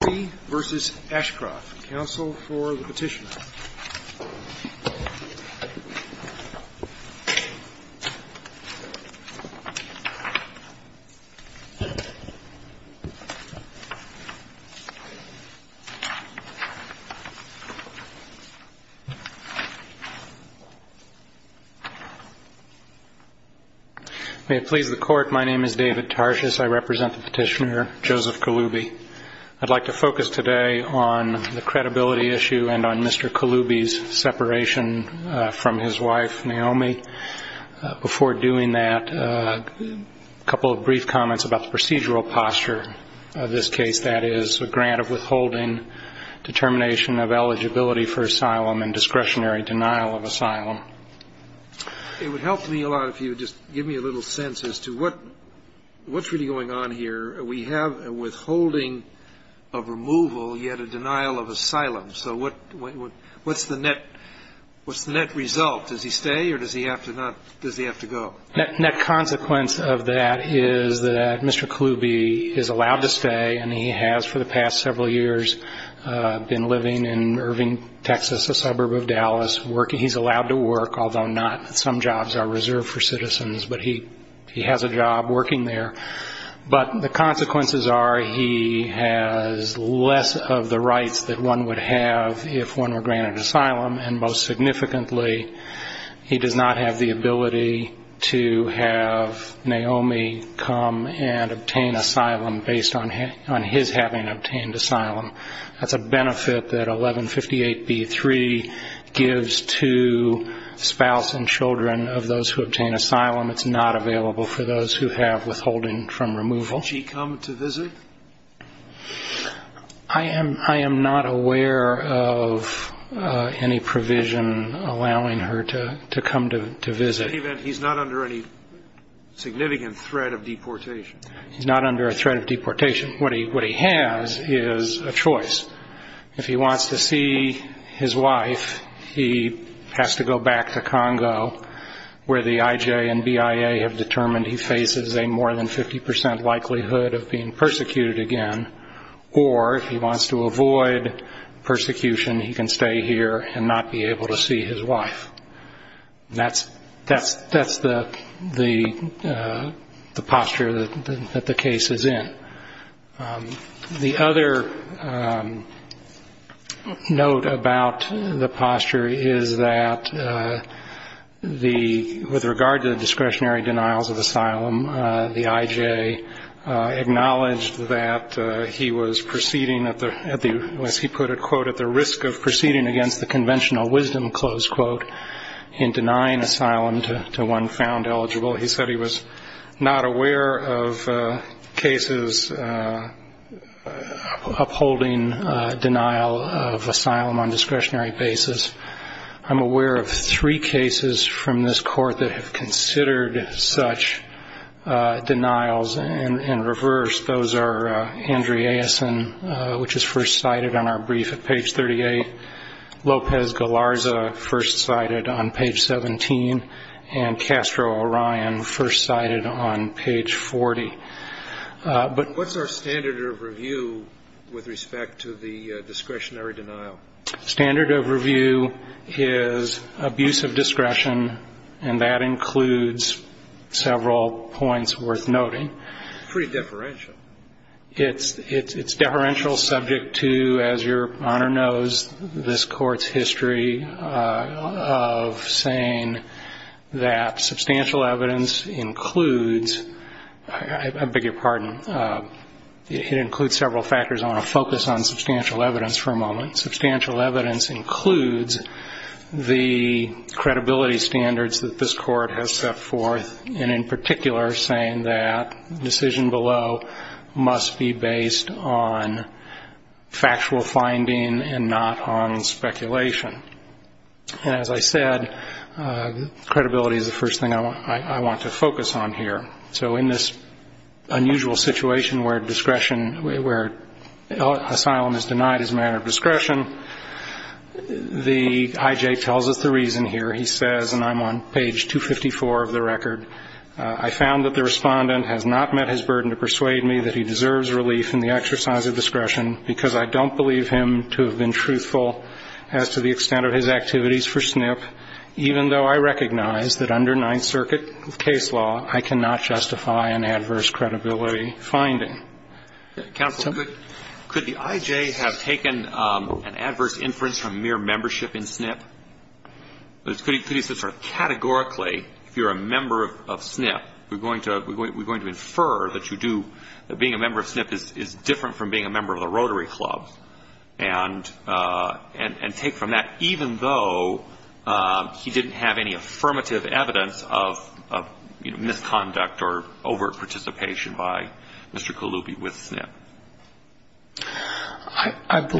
May it please the Court, my name is David Tarshis. I represent the petitioner, Joseph Kulubi. I'd like to focus today on the credibility issue and on Mr. Kulubi's separation from his wife, Naomi. Before doing that, a couple of brief comments about the procedural posture of this case, that is, a grant of withholding, determination of eligibility for asylum and discretionary denial of asylum. It would help me a lot if you would just give me a little sense as to what's really going on here. We have a withholding of removal, yet a denial of asylum. So what's the net result? Does he stay, or does he have to go? Net consequence of that is that Mr. Kulubi is allowed to stay, and he has for the past several years been living in Irving, Texas, a suburb of Dallas. He's allowed to work, although not. Some jobs are reserved for citizens, but he has a job working there. But the consequences are he has less of the rights that one would have if one were granted asylum, and most significantly, he does not have the ability to have Naomi come and obtain asylum based on his having obtained asylum. That's a benefit that 1158b-3 gives to spouse and children of those who obtain asylum. It's not available for those who have withholding from removal. Did she come to visit? I am not aware of any provision allowing her to come to visit. In any event, he's not under any significant threat of deportation. He's not under a threat of deportation. What he has is a choice. If he wants to see his wife, he has to go back to Congo, where the IJ and BIA have determined he faces a more than 50 percent likelihood of being persecuted again, or if he wants to avoid persecution, he can stay here and not be able to see his wife. That's the posture that the case is in. The other note about the posture is that with regard to the discretionary denials of asylum, the IJ acknowledged that he was proceeding, as he put it, quote, at the risk of proceeding against the conventional wisdom, close quote, in denying asylum to one found eligible. He said he was not aware of cases upholding denial of asylum on a discretionary basis. I'm aware of three cases from this court that have considered such denials and reversed. Those are Andre Aysen, which is first cited on our brief at page 38, Lopez Galarza, first cited on page 17, and Castro Orion, first cited on page 40. What's our standard of review with respect to the discretionary denial? Standard of review is abuse of discretion, and that includes several points worth noting. It's pretty deferential. It's deferential subject to, as your Honor knows, this Court's history of saying that substantial evidence includes, I beg your pardon, it includes several factors. I want to say that substantial evidence includes the credibility standards that this Court has set forth, and in particular saying that the decision below must be based on factual finding and not on speculation. And as I said, credibility is the first thing I want to focus on here. So in this unusual situation where discretion, where asylum is denied as a matter of discretion, the IJ tells us the reason here. He says, and I'm on page 254 of the record, I found that the Respondent has not met his burden to persuade me that he deserves relief in the exercise of discretion because I don't believe him to have been truthful as to the extent of his activities for SNP, even though I recognize that under Ninth Circuit finding. Counsel, could the IJ have taken an adverse inference from mere membership in SNP? Could he sort of categorically, if you're a member of SNP, we're going to infer that you do, that being a member of SNP is different from being a member of the Rotary Club, and take from that, even though he didn't have any affirmative evidence of misconduct or overt participation by Mr. Colubi with SNP.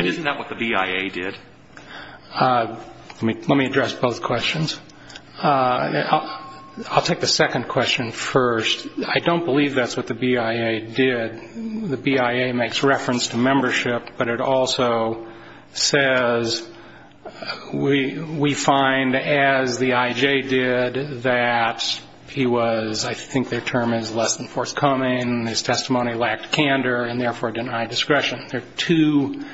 Isn't that what the BIA did? Let me address both questions. I'll take the second question first. I don't believe that's what the BIA did. The BIA makes reference to membership, but it also says we find, as the IJ did, that he was, I think their term is less than forthcoming, his testimony lacked candor, and therefore denied discretion. There are two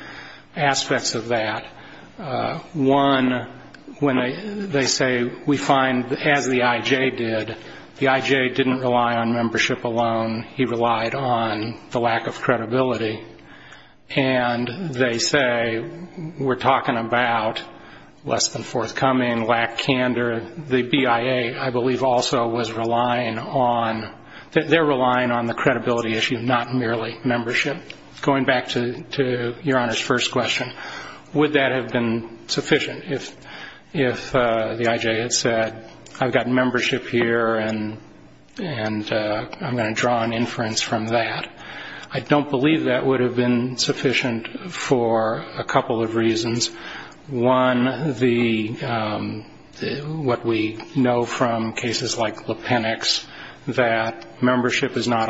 aspects of that. One, when they say we find, as the IJ did, the IJ didn't rely on membership alone. He relied on the credibility issue, not merely membership. Going back to Your Honor's first question, would that have been sufficient if the IJ had said, I've got membership here, and I'm going to draw an inference from that? I don't believe that would have been sufficient for a couple of reasons. One, I don't believe that would have been sufficient for a couple of reasons. One, the, what we know from cases like Lipenik's, that membership is not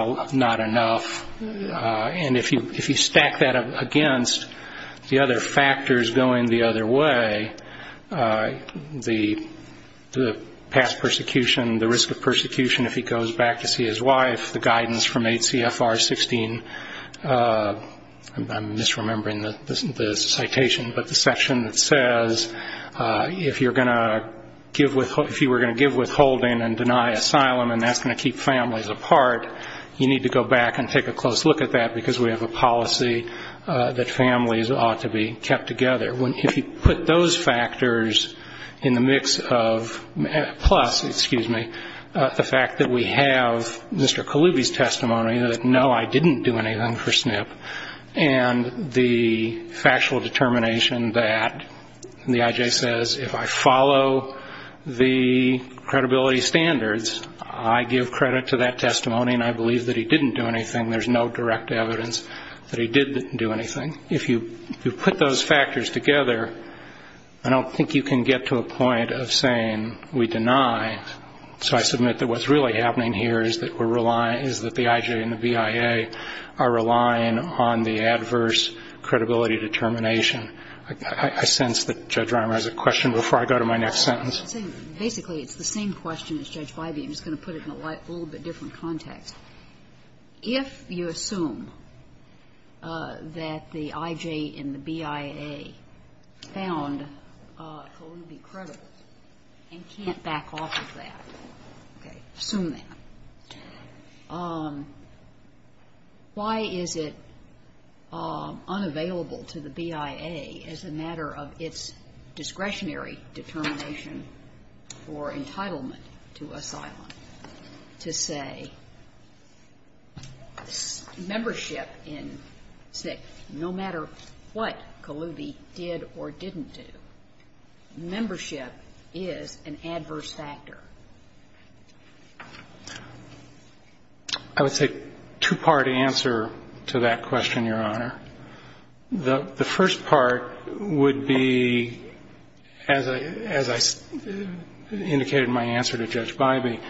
enough, and if you stack that against the other factors going the other way, the past persecution, the risk of persecution if he goes back to see his wife, the guidance from 8 CFR 16, I'm misremembering the citation, but the same thing. There's a section that says if you're going to give withholding and deny asylum, and that's going to keep families apart, you need to go back and take a close look at that, because we have a policy that families ought to be kept together. If you put those factors in the mix of, plus, excuse me, the fact that we have Mr. Kaluby's testimony that, no, I didn't do anything for SNP, and the factual determination that, no, I didn't do anything for SNP, and that, and the IJ says, if I follow the credibility standards, I give credit to that testimony, and I believe that he didn't do anything, there's no direct evidence that he did do anything. If you put those factors together, I don't think you can get to a point of saying we deny, so I submit that what's really happening here is that we're relying, is that the IJ and the BIA are relying on the adverse credibility determination. I sense that Judge Rimer has a question before I go to my next sentence. Basically, it's the same question as Judge Bybee. I'm just going to put it in a little bit different context. If you assume that the IJ and the BIA found Kaluby creditors and can't back off of that, okay, assume that, why is it unavailable to the BIA as a matter of its discretionary determination or entitlement to asylum to say membership in SNCC, no matter what Kaluby did or didn't do, membership is an adverse factor? I would say two-part answer to that question, Your Honor. The first part would be, as I indicated in my answer to Judge Bybee,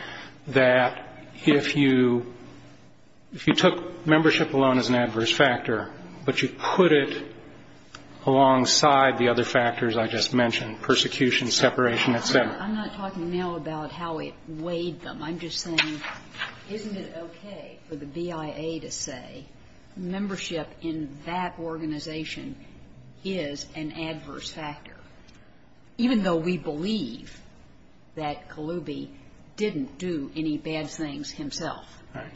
that if you took membership alone as an adverse factor, but you put it alongside the other factors I just mentioned, persecution, separation, et cetera. I'm not talking now about how it weighed them. I'm just saying, isn't it okay for the BIA to say membership in that organization is an adverse factor, even though we believe that Kaluby didn't do any bad things himself? Right.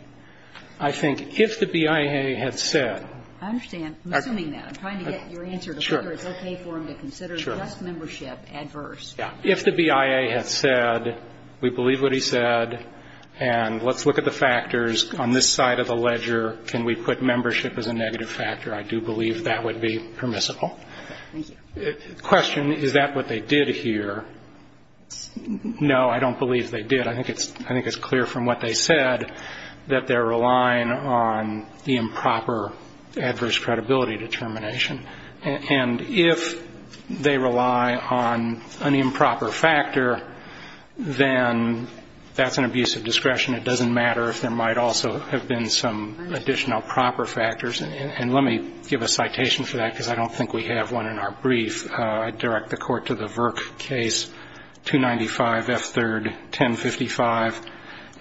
I think if the BIA had said — I understand. I'm assuming that. I'm trying to get your answer to whether it's okay for them to consider just membership adverse. Yeah. If the BIA had said, we believe what he said, and let's look at the factors on this side of the ledger, can we put membership as a negative factor, I do believe that would be permissible. Question, is that what they did here? No, I don't believe they did. I think it's clear from what they said that they're relying on the improper adverse credibility determination. And if they rely on an improper factor, then that's an abuse of discretion. It doesn't matter if there might also have been some additional proper factors. And let me give a citation for that, because I don't think we have one in our brief. I direct the Court to the Virk case, 295F3rd 1055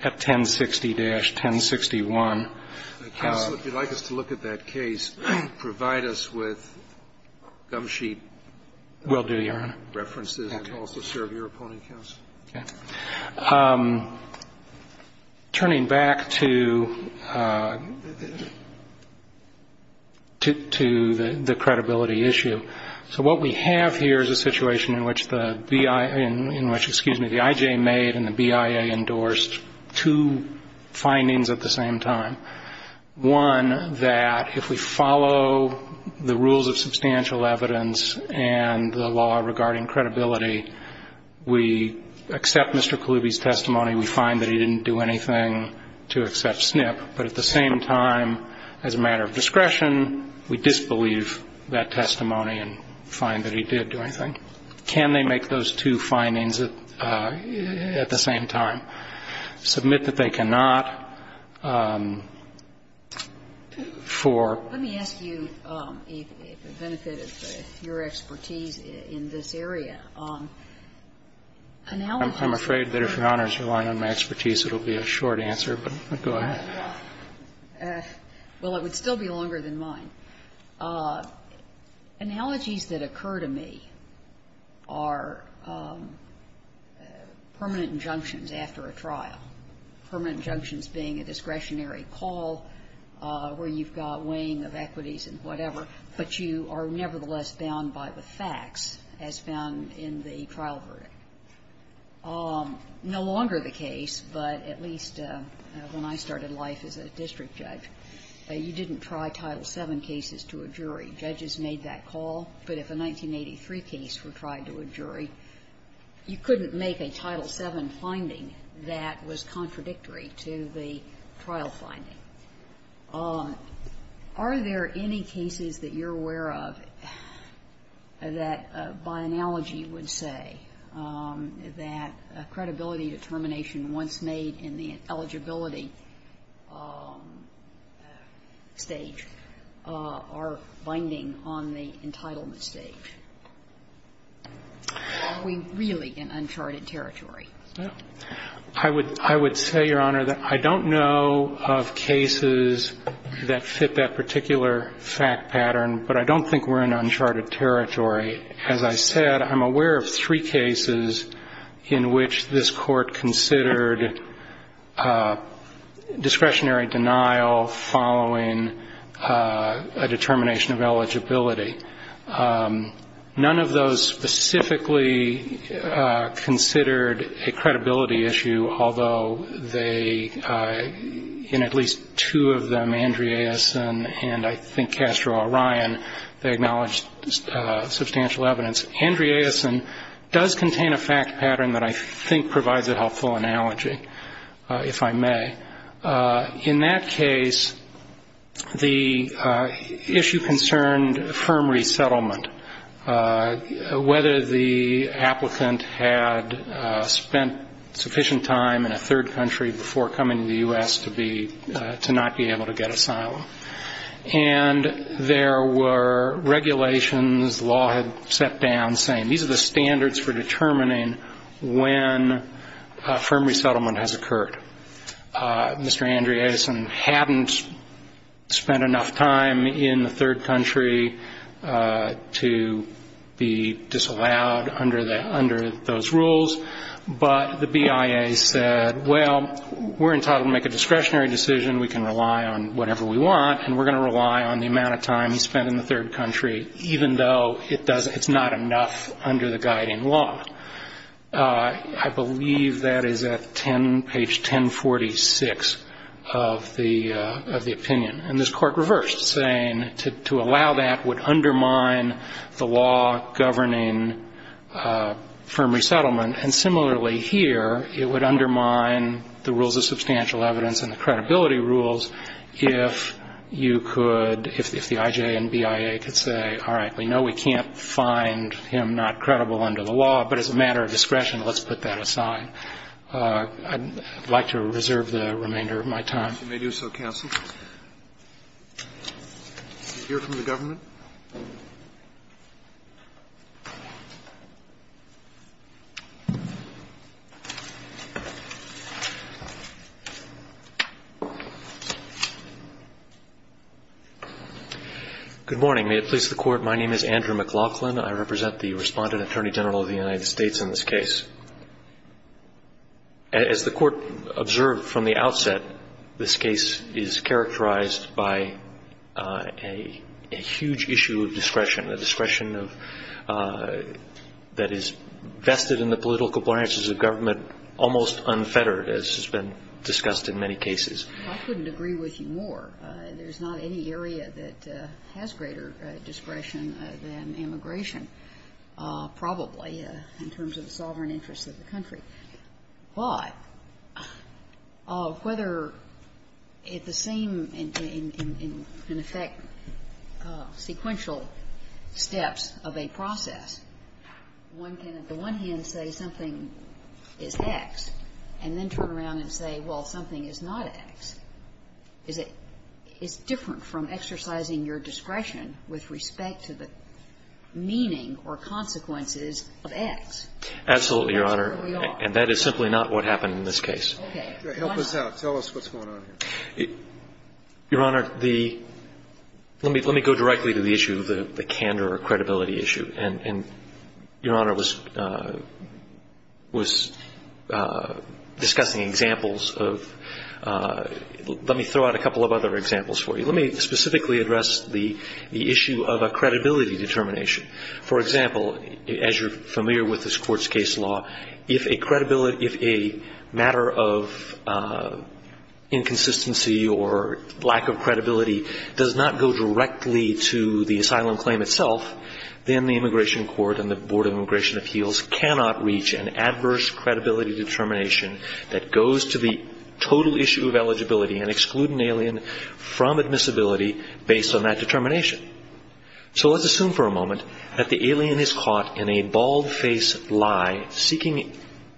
at 1060-1061. Counsel, if you'd like us to look at that case, provide us with gum sheet references and also serve your opponent, counsel. Okay. Turning back to the credibility issue. So what we have here is a situation in which the BIA, in which, excuse me, the I.J. made and the BIA endorsed two findings at the same time. One, that if we follow the rules of substantial evidence and the law regarding credibility, we accept Mr. Kaloubi's testimony, we find that he didn't do anything to accept SNP. But at the same time, as a matter of discretion, we disbelieve that testimony and find that he did do anything. Can they make those two findings at the same time? Submit that they cannot for. Let me ask you, for the benefit of your expertise in this area, analogies. I'm afraid that if Your Honor is relying on my expertise, it will be a short answer. But go ahead. Well, it would still be longer than mine. Analogies that occur to me are permanent injunctions after a trial. Permanent injunctions being a discretionary call where you've got weighing of equities and whatever, but you are nevertheless bound by the facts as found in the trial verdict. No longer the case, but at least when I started life as a district judge, you didn't try Title VII cases to a jury. Judges made that call. But if a 1983 case were tried to a jury, you couldn't make a Title VII finding that was contradictory to the trial finding. Are there any cases that you're aware of that, by analogy, would say that a credibility are binding on the entitlement stage? Are we really in uncharted territory? I would say, Your Honor, that I don't know of cases that fit that particular fact pattern, but I don't think we're in uncharted territory. As I said, I'm aware of three cases in which this Court considered discretionary denial following a determination of eligibility. None of those specifically considered a credibility issue, although they, in at least two of them, Andreasson and I think Castro-Orion, they acknowledged substantial evidence. Andreasson does contain a fact pattern that I think provides a helpful analogy, if I may. In that case, the issue concerned firm resettlement, whether the applicant had spent sufficient time in a third country before coming to the U.S. to not be able to get asylum. And there were regulations the law had set down saying these are the standards for determining when firm resettlement has occurred. Mr. Andreasson hadn't spent enough time in the third country to be disallowed under those rules, but the BIA said, well, we're entitled to make a discretionary decision. We can rely on whatever we want, and we're going to rely on the amount of time he spent in the third country, even though it's not enough under the guiding law. I believe that is at page 1046 of the opinion. And this Court reversed, saying to allow that would undermine the law governing firm resettlement. And similarly here, it would undermine the rules of substantial evidence and the credibility rules if you could, if the IJ and BIA could say, all right, we know we can't find him not credible under the law, but as a matter of discretion, let's put that aside. I'd like to reserve the remainder of my time. If you may do so, counsel. Did you hear from the government? Good morning. May it please the Court. My name is Andrew McLaughlin. I represent the Respondent Attorney General of the United States in this case. As the Court observed from the outset, this case is characterized by a huge issue of discretion, the discretion of that is vested in the political appliances of government almost unfettered, as has been discussed in many cases. I couldn't agree with you more. There's not any area that has greater discretion than immigration, probably, in terms of the sovereign interests of the country. But whether the same, in effect, sequential steps of a process, one can at the one hand say something is X and then turn around and say, well, something is not X. Is it different from exercising your discretion with respect to the meaning or consequences of X? Absolutely, Your Honor. And that is simply not what happened in this case. Okay. Help us out. Tell us what's going on here. Your Honor, the – let me go directly to the issue of the candor or credibility issue. And Your Honor was discussing examples of – let me throw out a couple of other examples for you. Let me specifically address the issue of a credibility determination. For example, as you're familiar with this Court's case law, if a matter of inconsistency or lack of credibility does not go directly to the asylum claim itself, then the Immigration Court and the Board of Immigration Appeals cannot reach an adverse credibility determination that goes to the total issue of eligibility and exclude an alien from admissibility based on that determination. So let's assume for a moment that the alien is caught in a bald-face lie seeking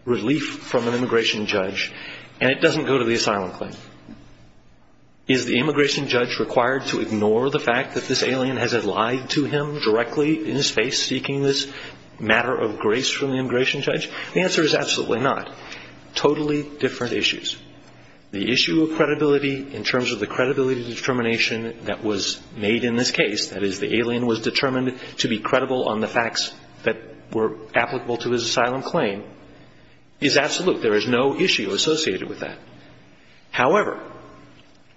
relief from an immigration judge and it doesn't go to the asylum claim. Is the immigration judge required to ignore the fact that this alien has lied to him directly in his face seeking this matter of grace from the immigration judge? The answer is absolutely not. Totally different issues. The issue of credibility in terms of the credibility determination that was made in this case, that is the alien was determined to be credible on the facts that were applicable to his asylum claim, is absolute. There is no issue associated with that. However,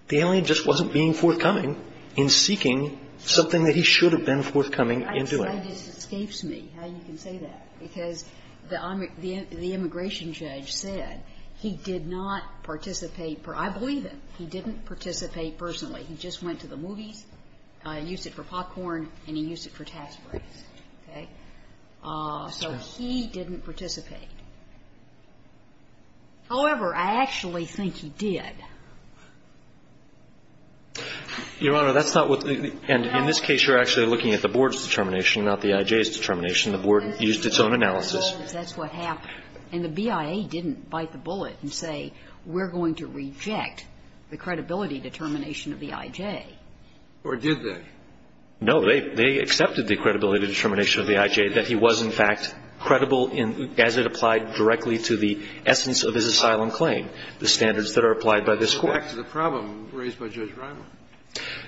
the alien just wasn't being forthcoming in seeking something that he should have been forthcoming in doing. I'm sorry. This escapes me how you can say that, because the immigration judge said he did not participate. I believe him. He didn't participate personally. He just went to the movies, used it for popcorn, and he used it for tax breaks. Okay? So he didn't participate. However, I actually think he did. Your Honor, that's not what the ---- And in this case, you're actually looking at the board's determination, not the I.J.'s determination. The board used its own analysis. That's what happened. And the BIA didn't bite the bullet and say we're going to reject the credibility determination of the I.J. Or did they? No. They accepted the credibility determination of the I.J., that he was, in fact, credible as it applied directly to the essence of his asylum claim, the standards that are applied by this Court. That's the problem raised by Judge Reimer.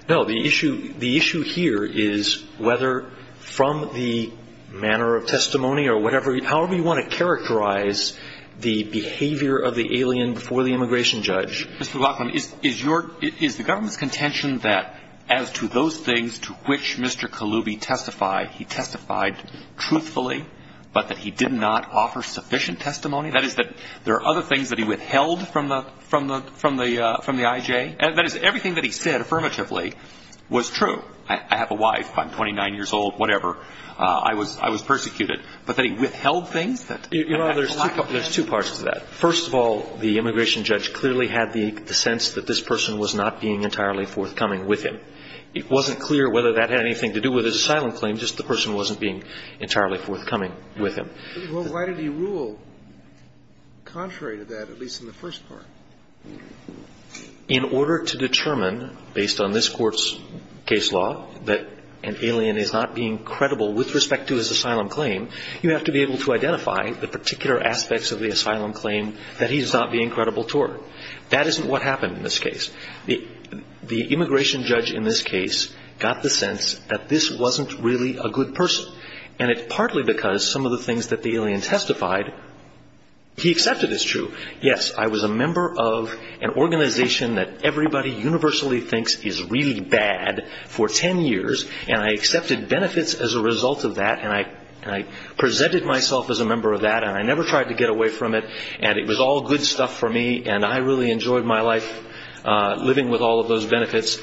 No. The issue here is whether from the manner of testimony or whatever, however you want to characterize the behavior of the alien before the immigration judge. Mr. Glockman, is the government's contention that as to those things to which Mr. Kalubi testified, he testified truthfully, but that he did not offer sufficient testimony? That is, that there are other things that he withheld from the I.J.? That is, everything that he said affirmatively was true. I have a wife. I'm 29 years old, whatever. I was persecuted. But that he withheld things? Your Honor, there's two parts to that. First of all, the immigration judge clearly had the sense that this person was not being entirely forthcoming with him. It wasn't clear whether that had anything to do with his asylum claim, just the person wasn't being entirely forthcoming with him. Well, why did he rule contrary to that, at least in the first part? In order to determine, based on this Court's case law, that an alien is not being credible with respect to his asylum claim, you have to be able to identify the particular aspects of the asylum claim that he's not being credible toward. That isn't what happened in this case. The immigration judge in this case got the sense that this wasn't really a good person. And it's partly because some of the things that the alien testified, he accepted as true. Yes, I was a member of an organization that everybody universally thinks is really bad for 10 years, and I accepted benefits as a result of that, and I presented myself as a member of that, and I never tried to get away from it, and it was all good stuff for me, and I really enjoyed my life living with all of those benefits.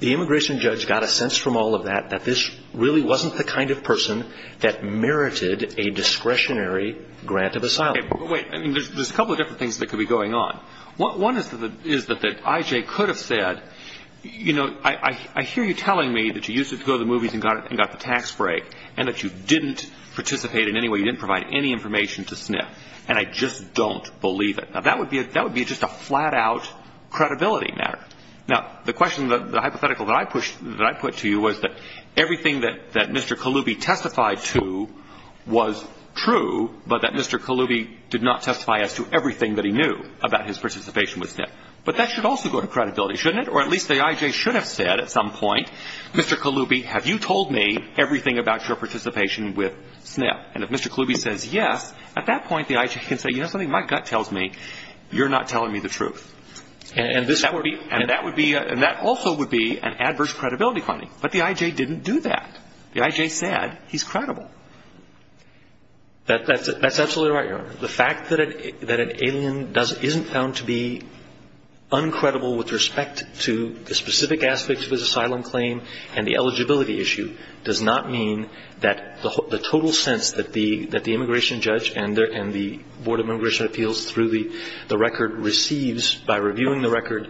The immigration judge got a sense from all of that that this really wasn't the kind of person that merited a discretionary grant of asylum. Wait, there's a couple of different things that could be going on. One is that I.J. could have said, you know, I hear you telling me that you used it to go to the movies and got the tax break, and that you didn't participate in any way, you didn't provide any information to SNF, and I just don't believe it. Now, that would be just a flat-out credibility matter. Now, the question, the hypothetical that I put to you was that everything that Mr. Kaloubi testified to was true, but that Mr. Kaloubi did not testify as to everything that he knew about his participation with SNF. But that should also go to credibility, shouldn't it? Or at least the I.J. should have said at some point, Mr. Kaloubi, have you told me everything about your participation with SNF? And if Mr. Kaloubi says yes, at that point the I.J. can say, you know something? My gut tells me you're not telling me the truth. And that would be, and that also would be an adverse credibility finding. But the I.J. didn't do that. The I.J. said he's credible. That's absolutely right, Your Honor. The fact that an alien doesn't, isn't found to be uncredible with respect to the specific aspects of his asylum claim and the eligibility issue does not mean that the total sense that the immigration judge and the Board of Immigration Appeals through the record receives by reviewing the record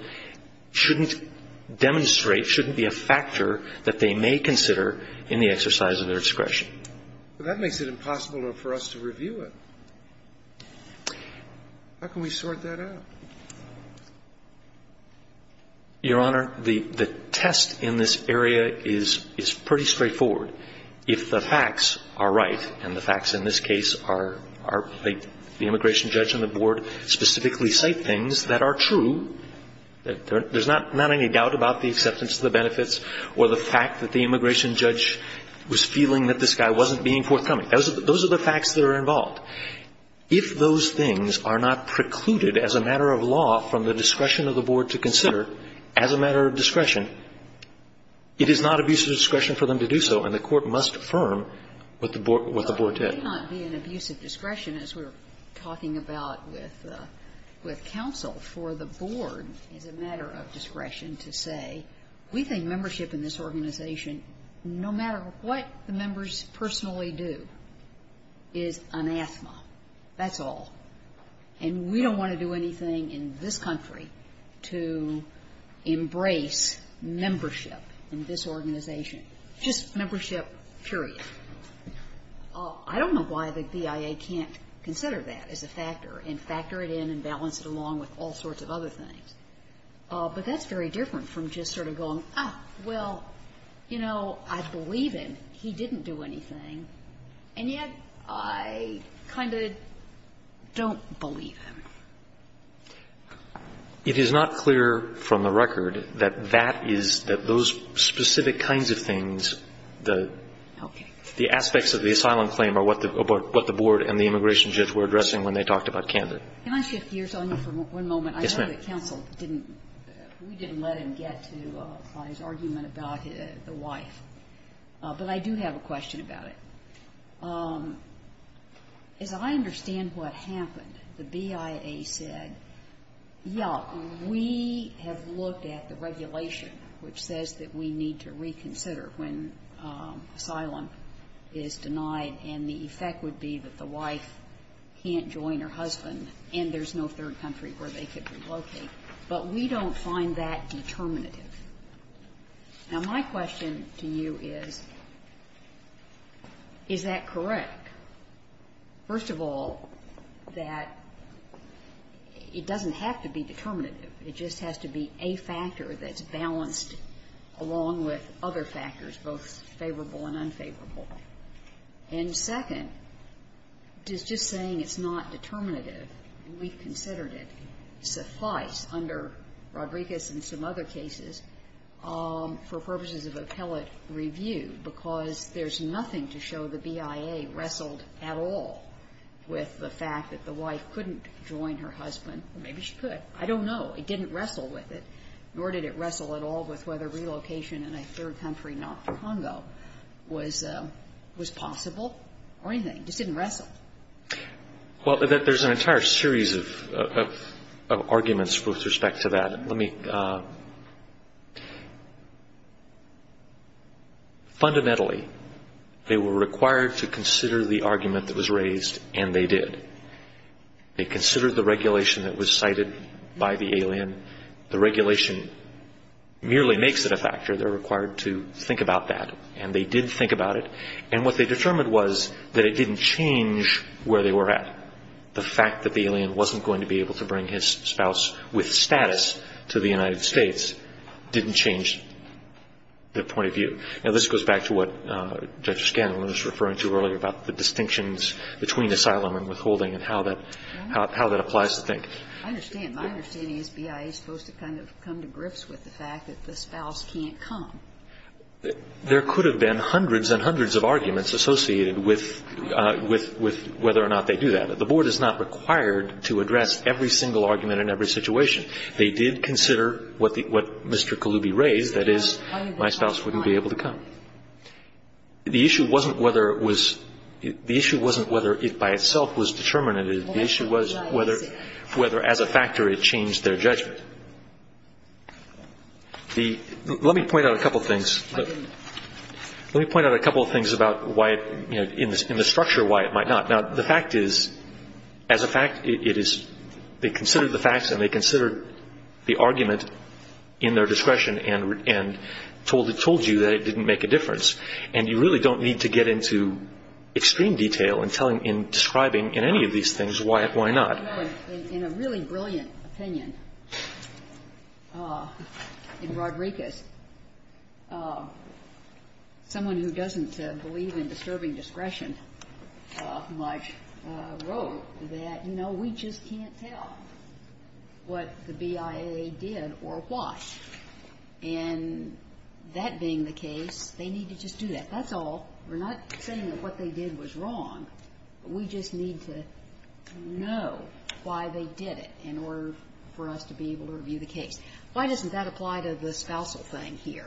shouldn't demonstrate, shouldn't be a factor that they may consider in the exercise of their discretion. But that makes it impossible for us to review it. How can we sort that out? Your Honor, the test in this area is pretty straightforward. If the facts are right, and the facts in this case are the immigration judge and the board specifically cite things that are true, there's not any doubt about the acceptance of the benefits or the fact that the immigration judge was feeling that this guy wasn't being forthcoming. Those are the facts that are involved. If those things are not precluded as a matter of law from the discretion of the board to consider as a matter of discretion, it is not abuse of discretion for them to do so, and the court must affirm what the board did. But it may not be an abuse of discretion, as we're talking about with counsel, for the board as a matter of discretion to say, we think membership in this organization, no matter what the members personally do, is anathema. That's all. And we don't want to do anything in this country to embrace membership in this organization. Just membership, period. I don't know why the BIA can't consider that as a factor and factor it in and balance it along with all sorts of other things. But that's very different from just sort of going, ah, well, you know, I believe him, he didn't do anything, and yet I kind of don't believe him. It is not clear from the record that that is, that those specific kinds of things, the aspects of the asylum claim are what the board and the immigration judge were Yes, ma'am. For one moment. Yes, ma'am. I know that counsel didn't, we didn't let him get to his argument about the wife. But I do have a question about it. As I understand what happened, the BIA said, yes, we have looked at the regulation which says that we need to reconsider when asylum is denied, and the effect would be that the wife can't join her husband, and there's no third country where they could relocate. But we don't find that determinative. Now, my question to you is, is that correct? First of all, that it doesn't have to be determinative. It just has to be a factor that's balanced along with other factors, both favorable and unfavorable. And second, just saying it's not determinative, we've considered it, suffice under Rodriguez and some other cases for purposes of appellate review, because there's nothing to show the BIA wrestled at all with the fact that the wife couldn't join her husband. Maybe she could. I don't know. It didn't wrestle with it, nor did it wrestle at all with whether relocation in a third country north of Congo was possible or anything. It just didn't wrestle. Well, there's an entire series of arguments with respect to that. Fundamentally, they were required to consider the argument that was raised, and they did. They considered the regulation that was cited by the alien. The regulation merely makes it a factor. They're required to think about that, and they did think about it. And what they determined was that it didn't change where they were at. The fact that the alien wasn't going to be able to bring his spouse with status to the United States didn't change their point of view. Now, this goes back to what Judge Scanlon was referring to earlier about the distinctions between asylum and withholding and how that applies to things. I understand. My understanding is BIA is supposed to kind of come to grips with the fact that the spouse can't come. There could have been hundreds and hundreds of arguments associated with whether or not they do that. The Board is not required to address every single argument in every situation. They did consider what Mr. Kalubi raised, that is, my spouse wouldn't be able to come. The issue wasn't whether it was by itself was determinative. The issue was whether as a factor it changed their judgment. Let me point out a couple of things. Let me point out a couple of things about why, in the structure, why it might not. Now, the fact is, as a fact, they considered the facts and they considered the argument in their discretion and told you that it didn't make a difference. And you really don't need to get into extreme detail in describing in any of these things why not. In a really brilliant opinion in Rodriguez, someone who doesn't believe in disturbing discretion much wrote that, you know, we just can't tell what the BIA did or why. And that being the case, they need to just do that. That's all. We're not saying that what they did was wrong. We just need to know why they did it in order for us to be able to review the case. Why doesn't that apply to the spousal thing here?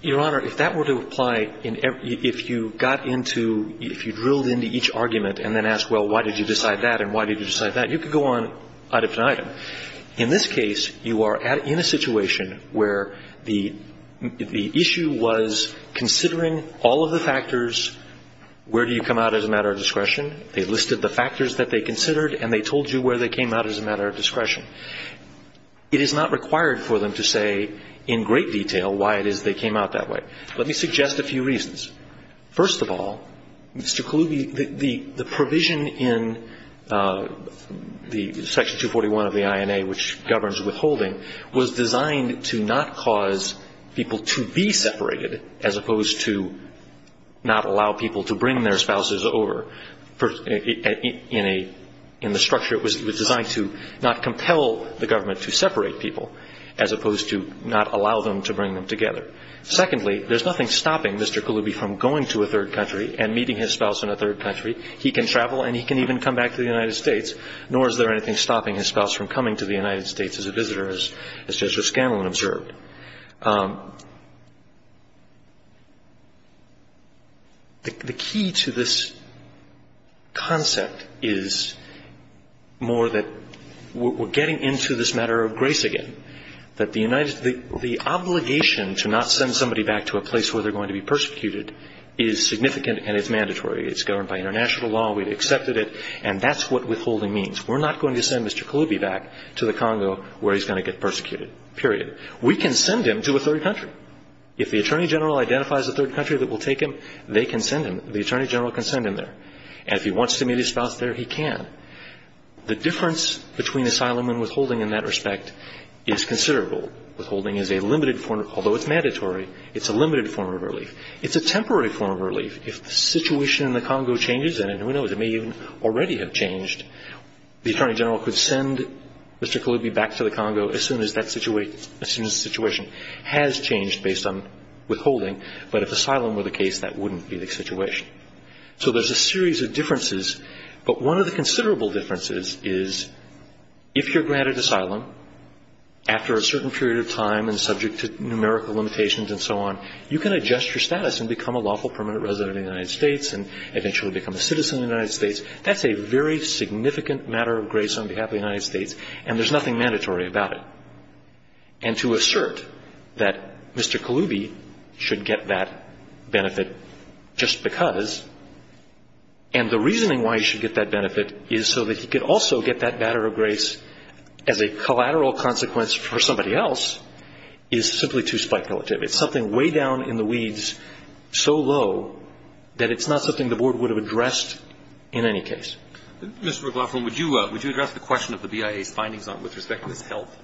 Your Honor, if that were to apply, if you got into, if you drilled into each argument and then asked, well, why did you decide that and why did you decide that, you could go on out of time. In this case, you are in a situation where the issue was considering all of the factors where do you come out as a matter of discretion. They listed the factors that they considered and they told you where they came out as a matter of discretion. It is not required for them to say in great detail why it is they came out that way. Let me suggest a few reasons. First of all, Mr. Kaluby, the provision in Section 241 of the INA, which governs withholding, was designed to not cause people to be separated as opposed to not allow people to bring their spouses over. In the structure, it was designed to not compel the government to separate people as opposed to not allow them to bring them together. Secondly, there is nothing stopping Mr. Kaluby from going to a third country and meeting his spouse in a third country. He can travel and he can even come back to the United States, nor is there anything stopping his spouse from coming to the United States as a visitor, as Justice Scanlon observed. The key to this concept is more that we're getting into this matter of grace again, that the obligation to not send somebody back to a place where they're going to be persecuted is significant and it's mandatory. It's governed by international law. We've accepted it. And that's what withholding means. We're not going to send Mr. Kaluby back to the Congo where he's going to get persecuted, period. We can send him to a third country. If the Attorney General identifies a third country that will take him, they can send him, the Attorney General can send him there. And if he wants to meet his spouse there, he can. The difference between asylum and withholding in that respect is considerable. Withholding is a limited form, although it's mandatory, it's a limited form of relief. It's a temporary form of relief. If the situation in the Congo changes, and who knows, it may even already have changed, the Attorney General could send Mr. Kaluby back to the Congo as soon as that situation has changed based on withholding. But if asylum were the case, that wouldn't be the situation. So there's a series of differences, but one of the considerable differences is if you're granted asylum, after a certain period of time and subject to numerical limitations and so on, you can adjust your status and become a lawful permanent resident of the United States and eventually become a citizen of the United States. That's a very significant matter of grace on behalf of the United States, and there's nothing mandatory about it. And to assert that Mr. Kaluby should get that benefit just because, and the reasoning why he should get that benefit is so that he could also get that matter of grace as a collateral consequence for somebody else, is simply too speculative. It's something way down in the weeds so low that it's not something the Board would have addressed in any case. Mr. McLaughlin, would you address the question of the BIA's findings with respect to his health?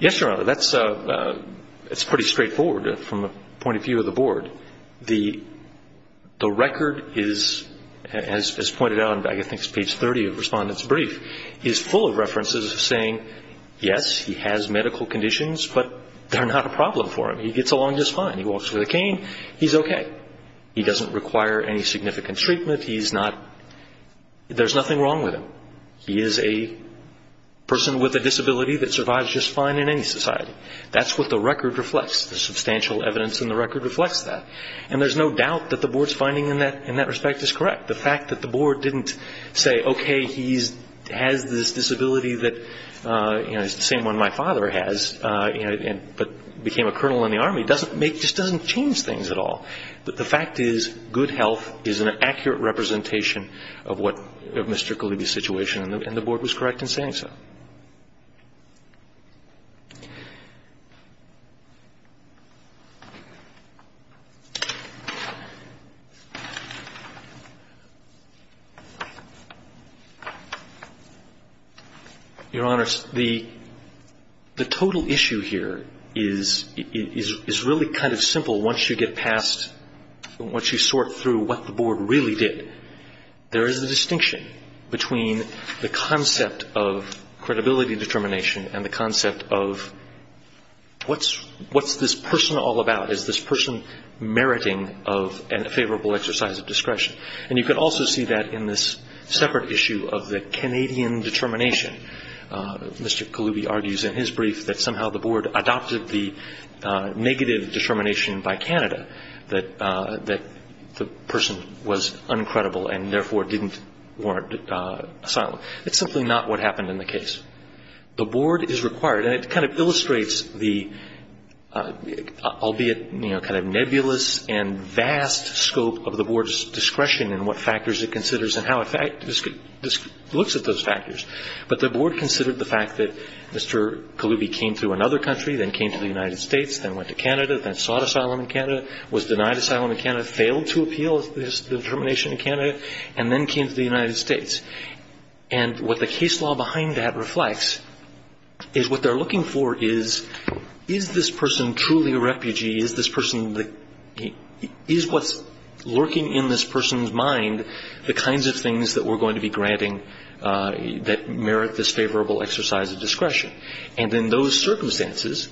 Yes, Your Honor. That's pretty straightforward from the point of view of the Board. The record is, as pointed out, I think it's page 30 of Respondent's Brief, is full of references saying, yes, he has medical conditions, but they're not a problem for him. He gets along just fine. He walks with a cane. He's okay. He doesn't require any significant treatment. He's not, there's nothing wrong with him. He is a person with a disability that survives just fine in any society. That's what the record reflects, the substantial evidence in the record reflects that. And there's no doubt that the Board's finding in that respect is correct. The fact that the Board didn't say, okay, he has this disability that, you know, it's the same one my father has, but became a colonel in the Army, doesn't make, just doesn't change things at all. But the fact is, good health is an accurate representation of what, of Mr. Kalibi's situation, and the Board was correct in saying so. Your Honor, the total issue here is, is really kind of simple once you get past the Once you sort through what the Board really did, there is a distinction between the concept of credibility determination and the concept of what's this person all about? Is this person meriting of a favorable exercise of discretion? And you can also see that in this separate issue of the Canadian determination. Mr. Kalibi argues in his brief that somehow the Board adopted the negative determination by Canada that the person was uncredible and therefore didn't warrant asylum. It's simply not what happened in the case. The Board is required, and it kind of illustrates the, albeit, you know, kind of nebulous and vast scope of the Board's discretion in what factors it considers and how it looks at those factors. But the Board considered the fact that Mr. Kalibi came through another country, then came to the United States, then went to Canada, then sought asylum in Canada, was denied asylum in Canada, failed to appeal his determination in Canada, and then came to the United States. And what the case law behind that reflects is what they're looking for is, is this person truly a refugee? Is this person the, is what's lurking in this person's mind the kinds of things that we're going to be granting that merit this favorable exercise of discretion? And in those circumstances,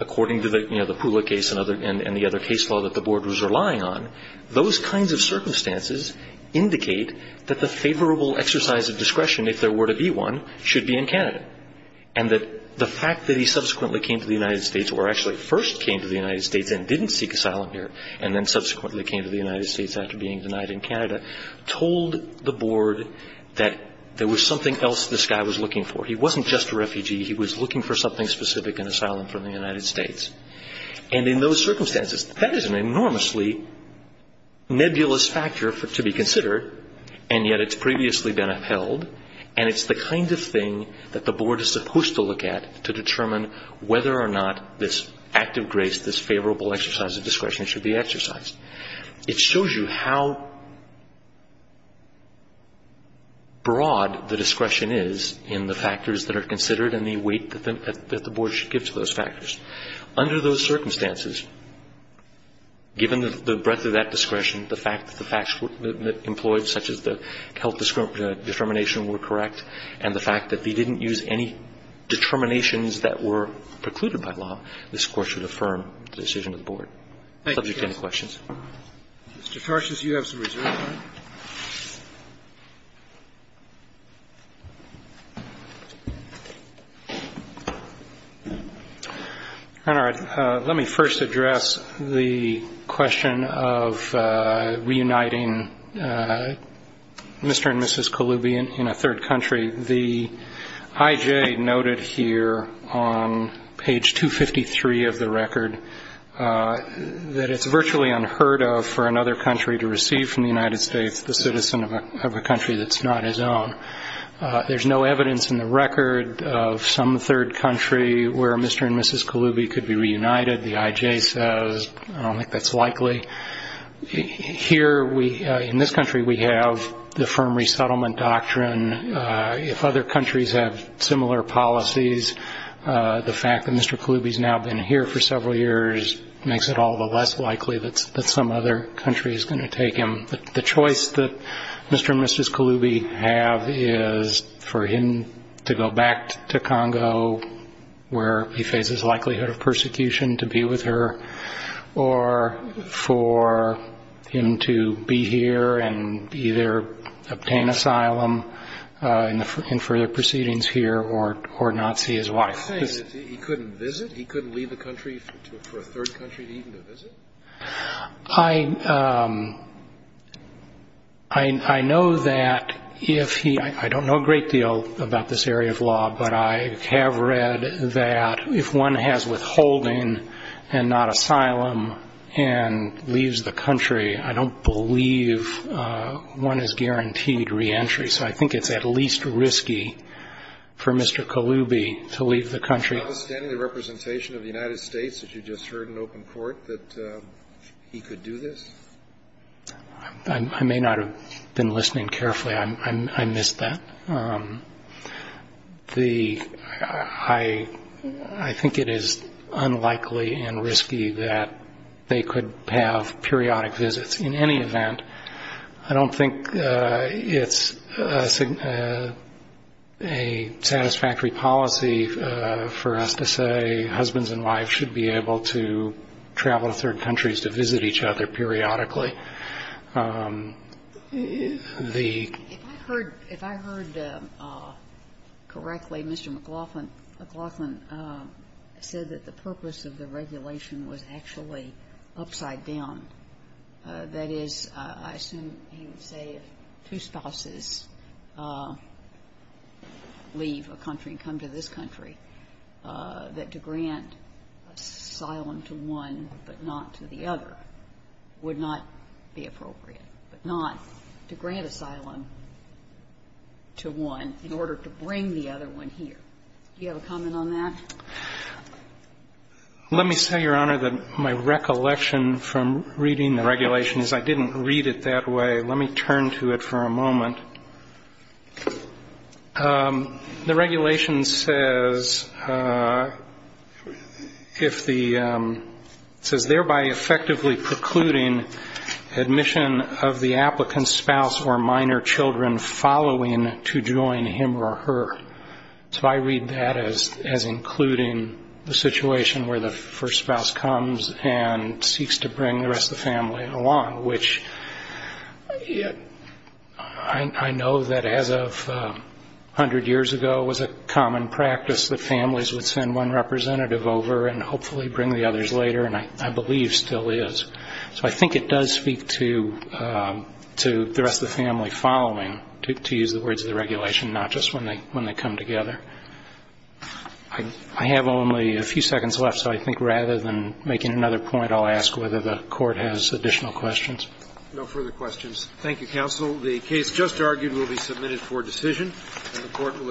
according to the, you know, the Pula case and other, and the other case law that the Board was relying on, those kinds of circumstances indicate that the favorable exercise of discretion, if there were to be one, should be in Canada. And that the fact that he subsequently came to the United States, or actually first came to the United States and didn't seek asylum here, and then subsequently came to the United States after being denied in Canada, told the Board that there was something else this guy was looking for. He wasn't just a refugee. He was looking for something specific in asylum from the United States. And in those circumstances, that is an enormously nebulous factor to be considered, and yet it's previously been upheld. And it's the kind of thing that the Board is supposed to look at to determine whether or not this act of grace, this favorable exercise of discretion, should be exercised. It shows you how broad the discretion is in the factors that are considered and the weight that the Board should give to those factors. Under those circumstances, given the breadth of that discretion, the fact that the facts employed, such as the health determination, were correct, and the fact that they didn't use any determinations that were precluded by law, this Court should affirm the decision of the Board. Thank you. Any questions? Mr. Tarshis, you have some reserve time. All right. Let me first address the question of reuniting Mr. and Mrs. Colubi in a third country. The I.J. noted here on page 253 of the record that it's virtually unheard of for another country to receive from the United States the citizen of a country that's not his own. There's no evidence in the record of some third country where Mr. and Mrs. Colubi could be reunited. The I.J. says I don't think that's likely. Here, in this country, we have the firm resettlement doctrine. If other countries have similar policies, the fact that Mr. Colubi has now been here for several years makes it all the less likely that some other country is going to take him. The choice that Mr. and Mrs. Colubi have is for him to go back to Congo, where he faces likelihood of persecution, to be with her, or for him to be here and either obtain asylum in further proceedings here or not see his wife. Are you saying that he couldn't visit? He couldn't leave the country for a third country even to visit? I know that if he – I don't know a great deal about this area of law, but I have read that if one has withholding and not asylum and leaves the country, I don't believe one is guaranteed reentry. So I think it's at least risky for Mr. Colubi to leave the country. Do you understand the representation of the United States, as you just heard in open court, that he could do this? I may not have been listening carefully. I missed that. The – I think it is unlikely and risky that they could have periodic visits. In any event, I don't think it's a satisfactory policy for us to say husbands and wives should be able to travel to third countries to visit each other periodically. The – If I heard correctly, Mr. McLaughlin said that the purpose of the regulation was actually upside down. That is, I assume he would say if two spouses leave a country and come to this country, that to grant asylum to one but not to the other would not be appropriate, but not to grant asylum to one in order to bring the other one here. Do you have a comment on that? Let me say, Your Honor, that my recollection from reading the regulation is I didn't read it that way. Let me turn to it for a moment. The regulation says if the – it says, thereby effectively precluding admission of the applicant's spouse or minor children following to join him or her. So I read that as including the situation where the first spouse comes and seeks to bring the rest of the family along, which I know that as of 100 years ago was a common practice that families would send one representative over and hopefully bring the others later, and I believe still is. So I think it does speak to the rest of the family following, to use the words of the regulation, not just when they come together. I have only a few seconds left, so I think rather than making another point, I'll ask whether the Court has additional questions. No further questions. Thank you, counsel. The case just argued will be submitted for decision, and the Court will adjourn. All rise.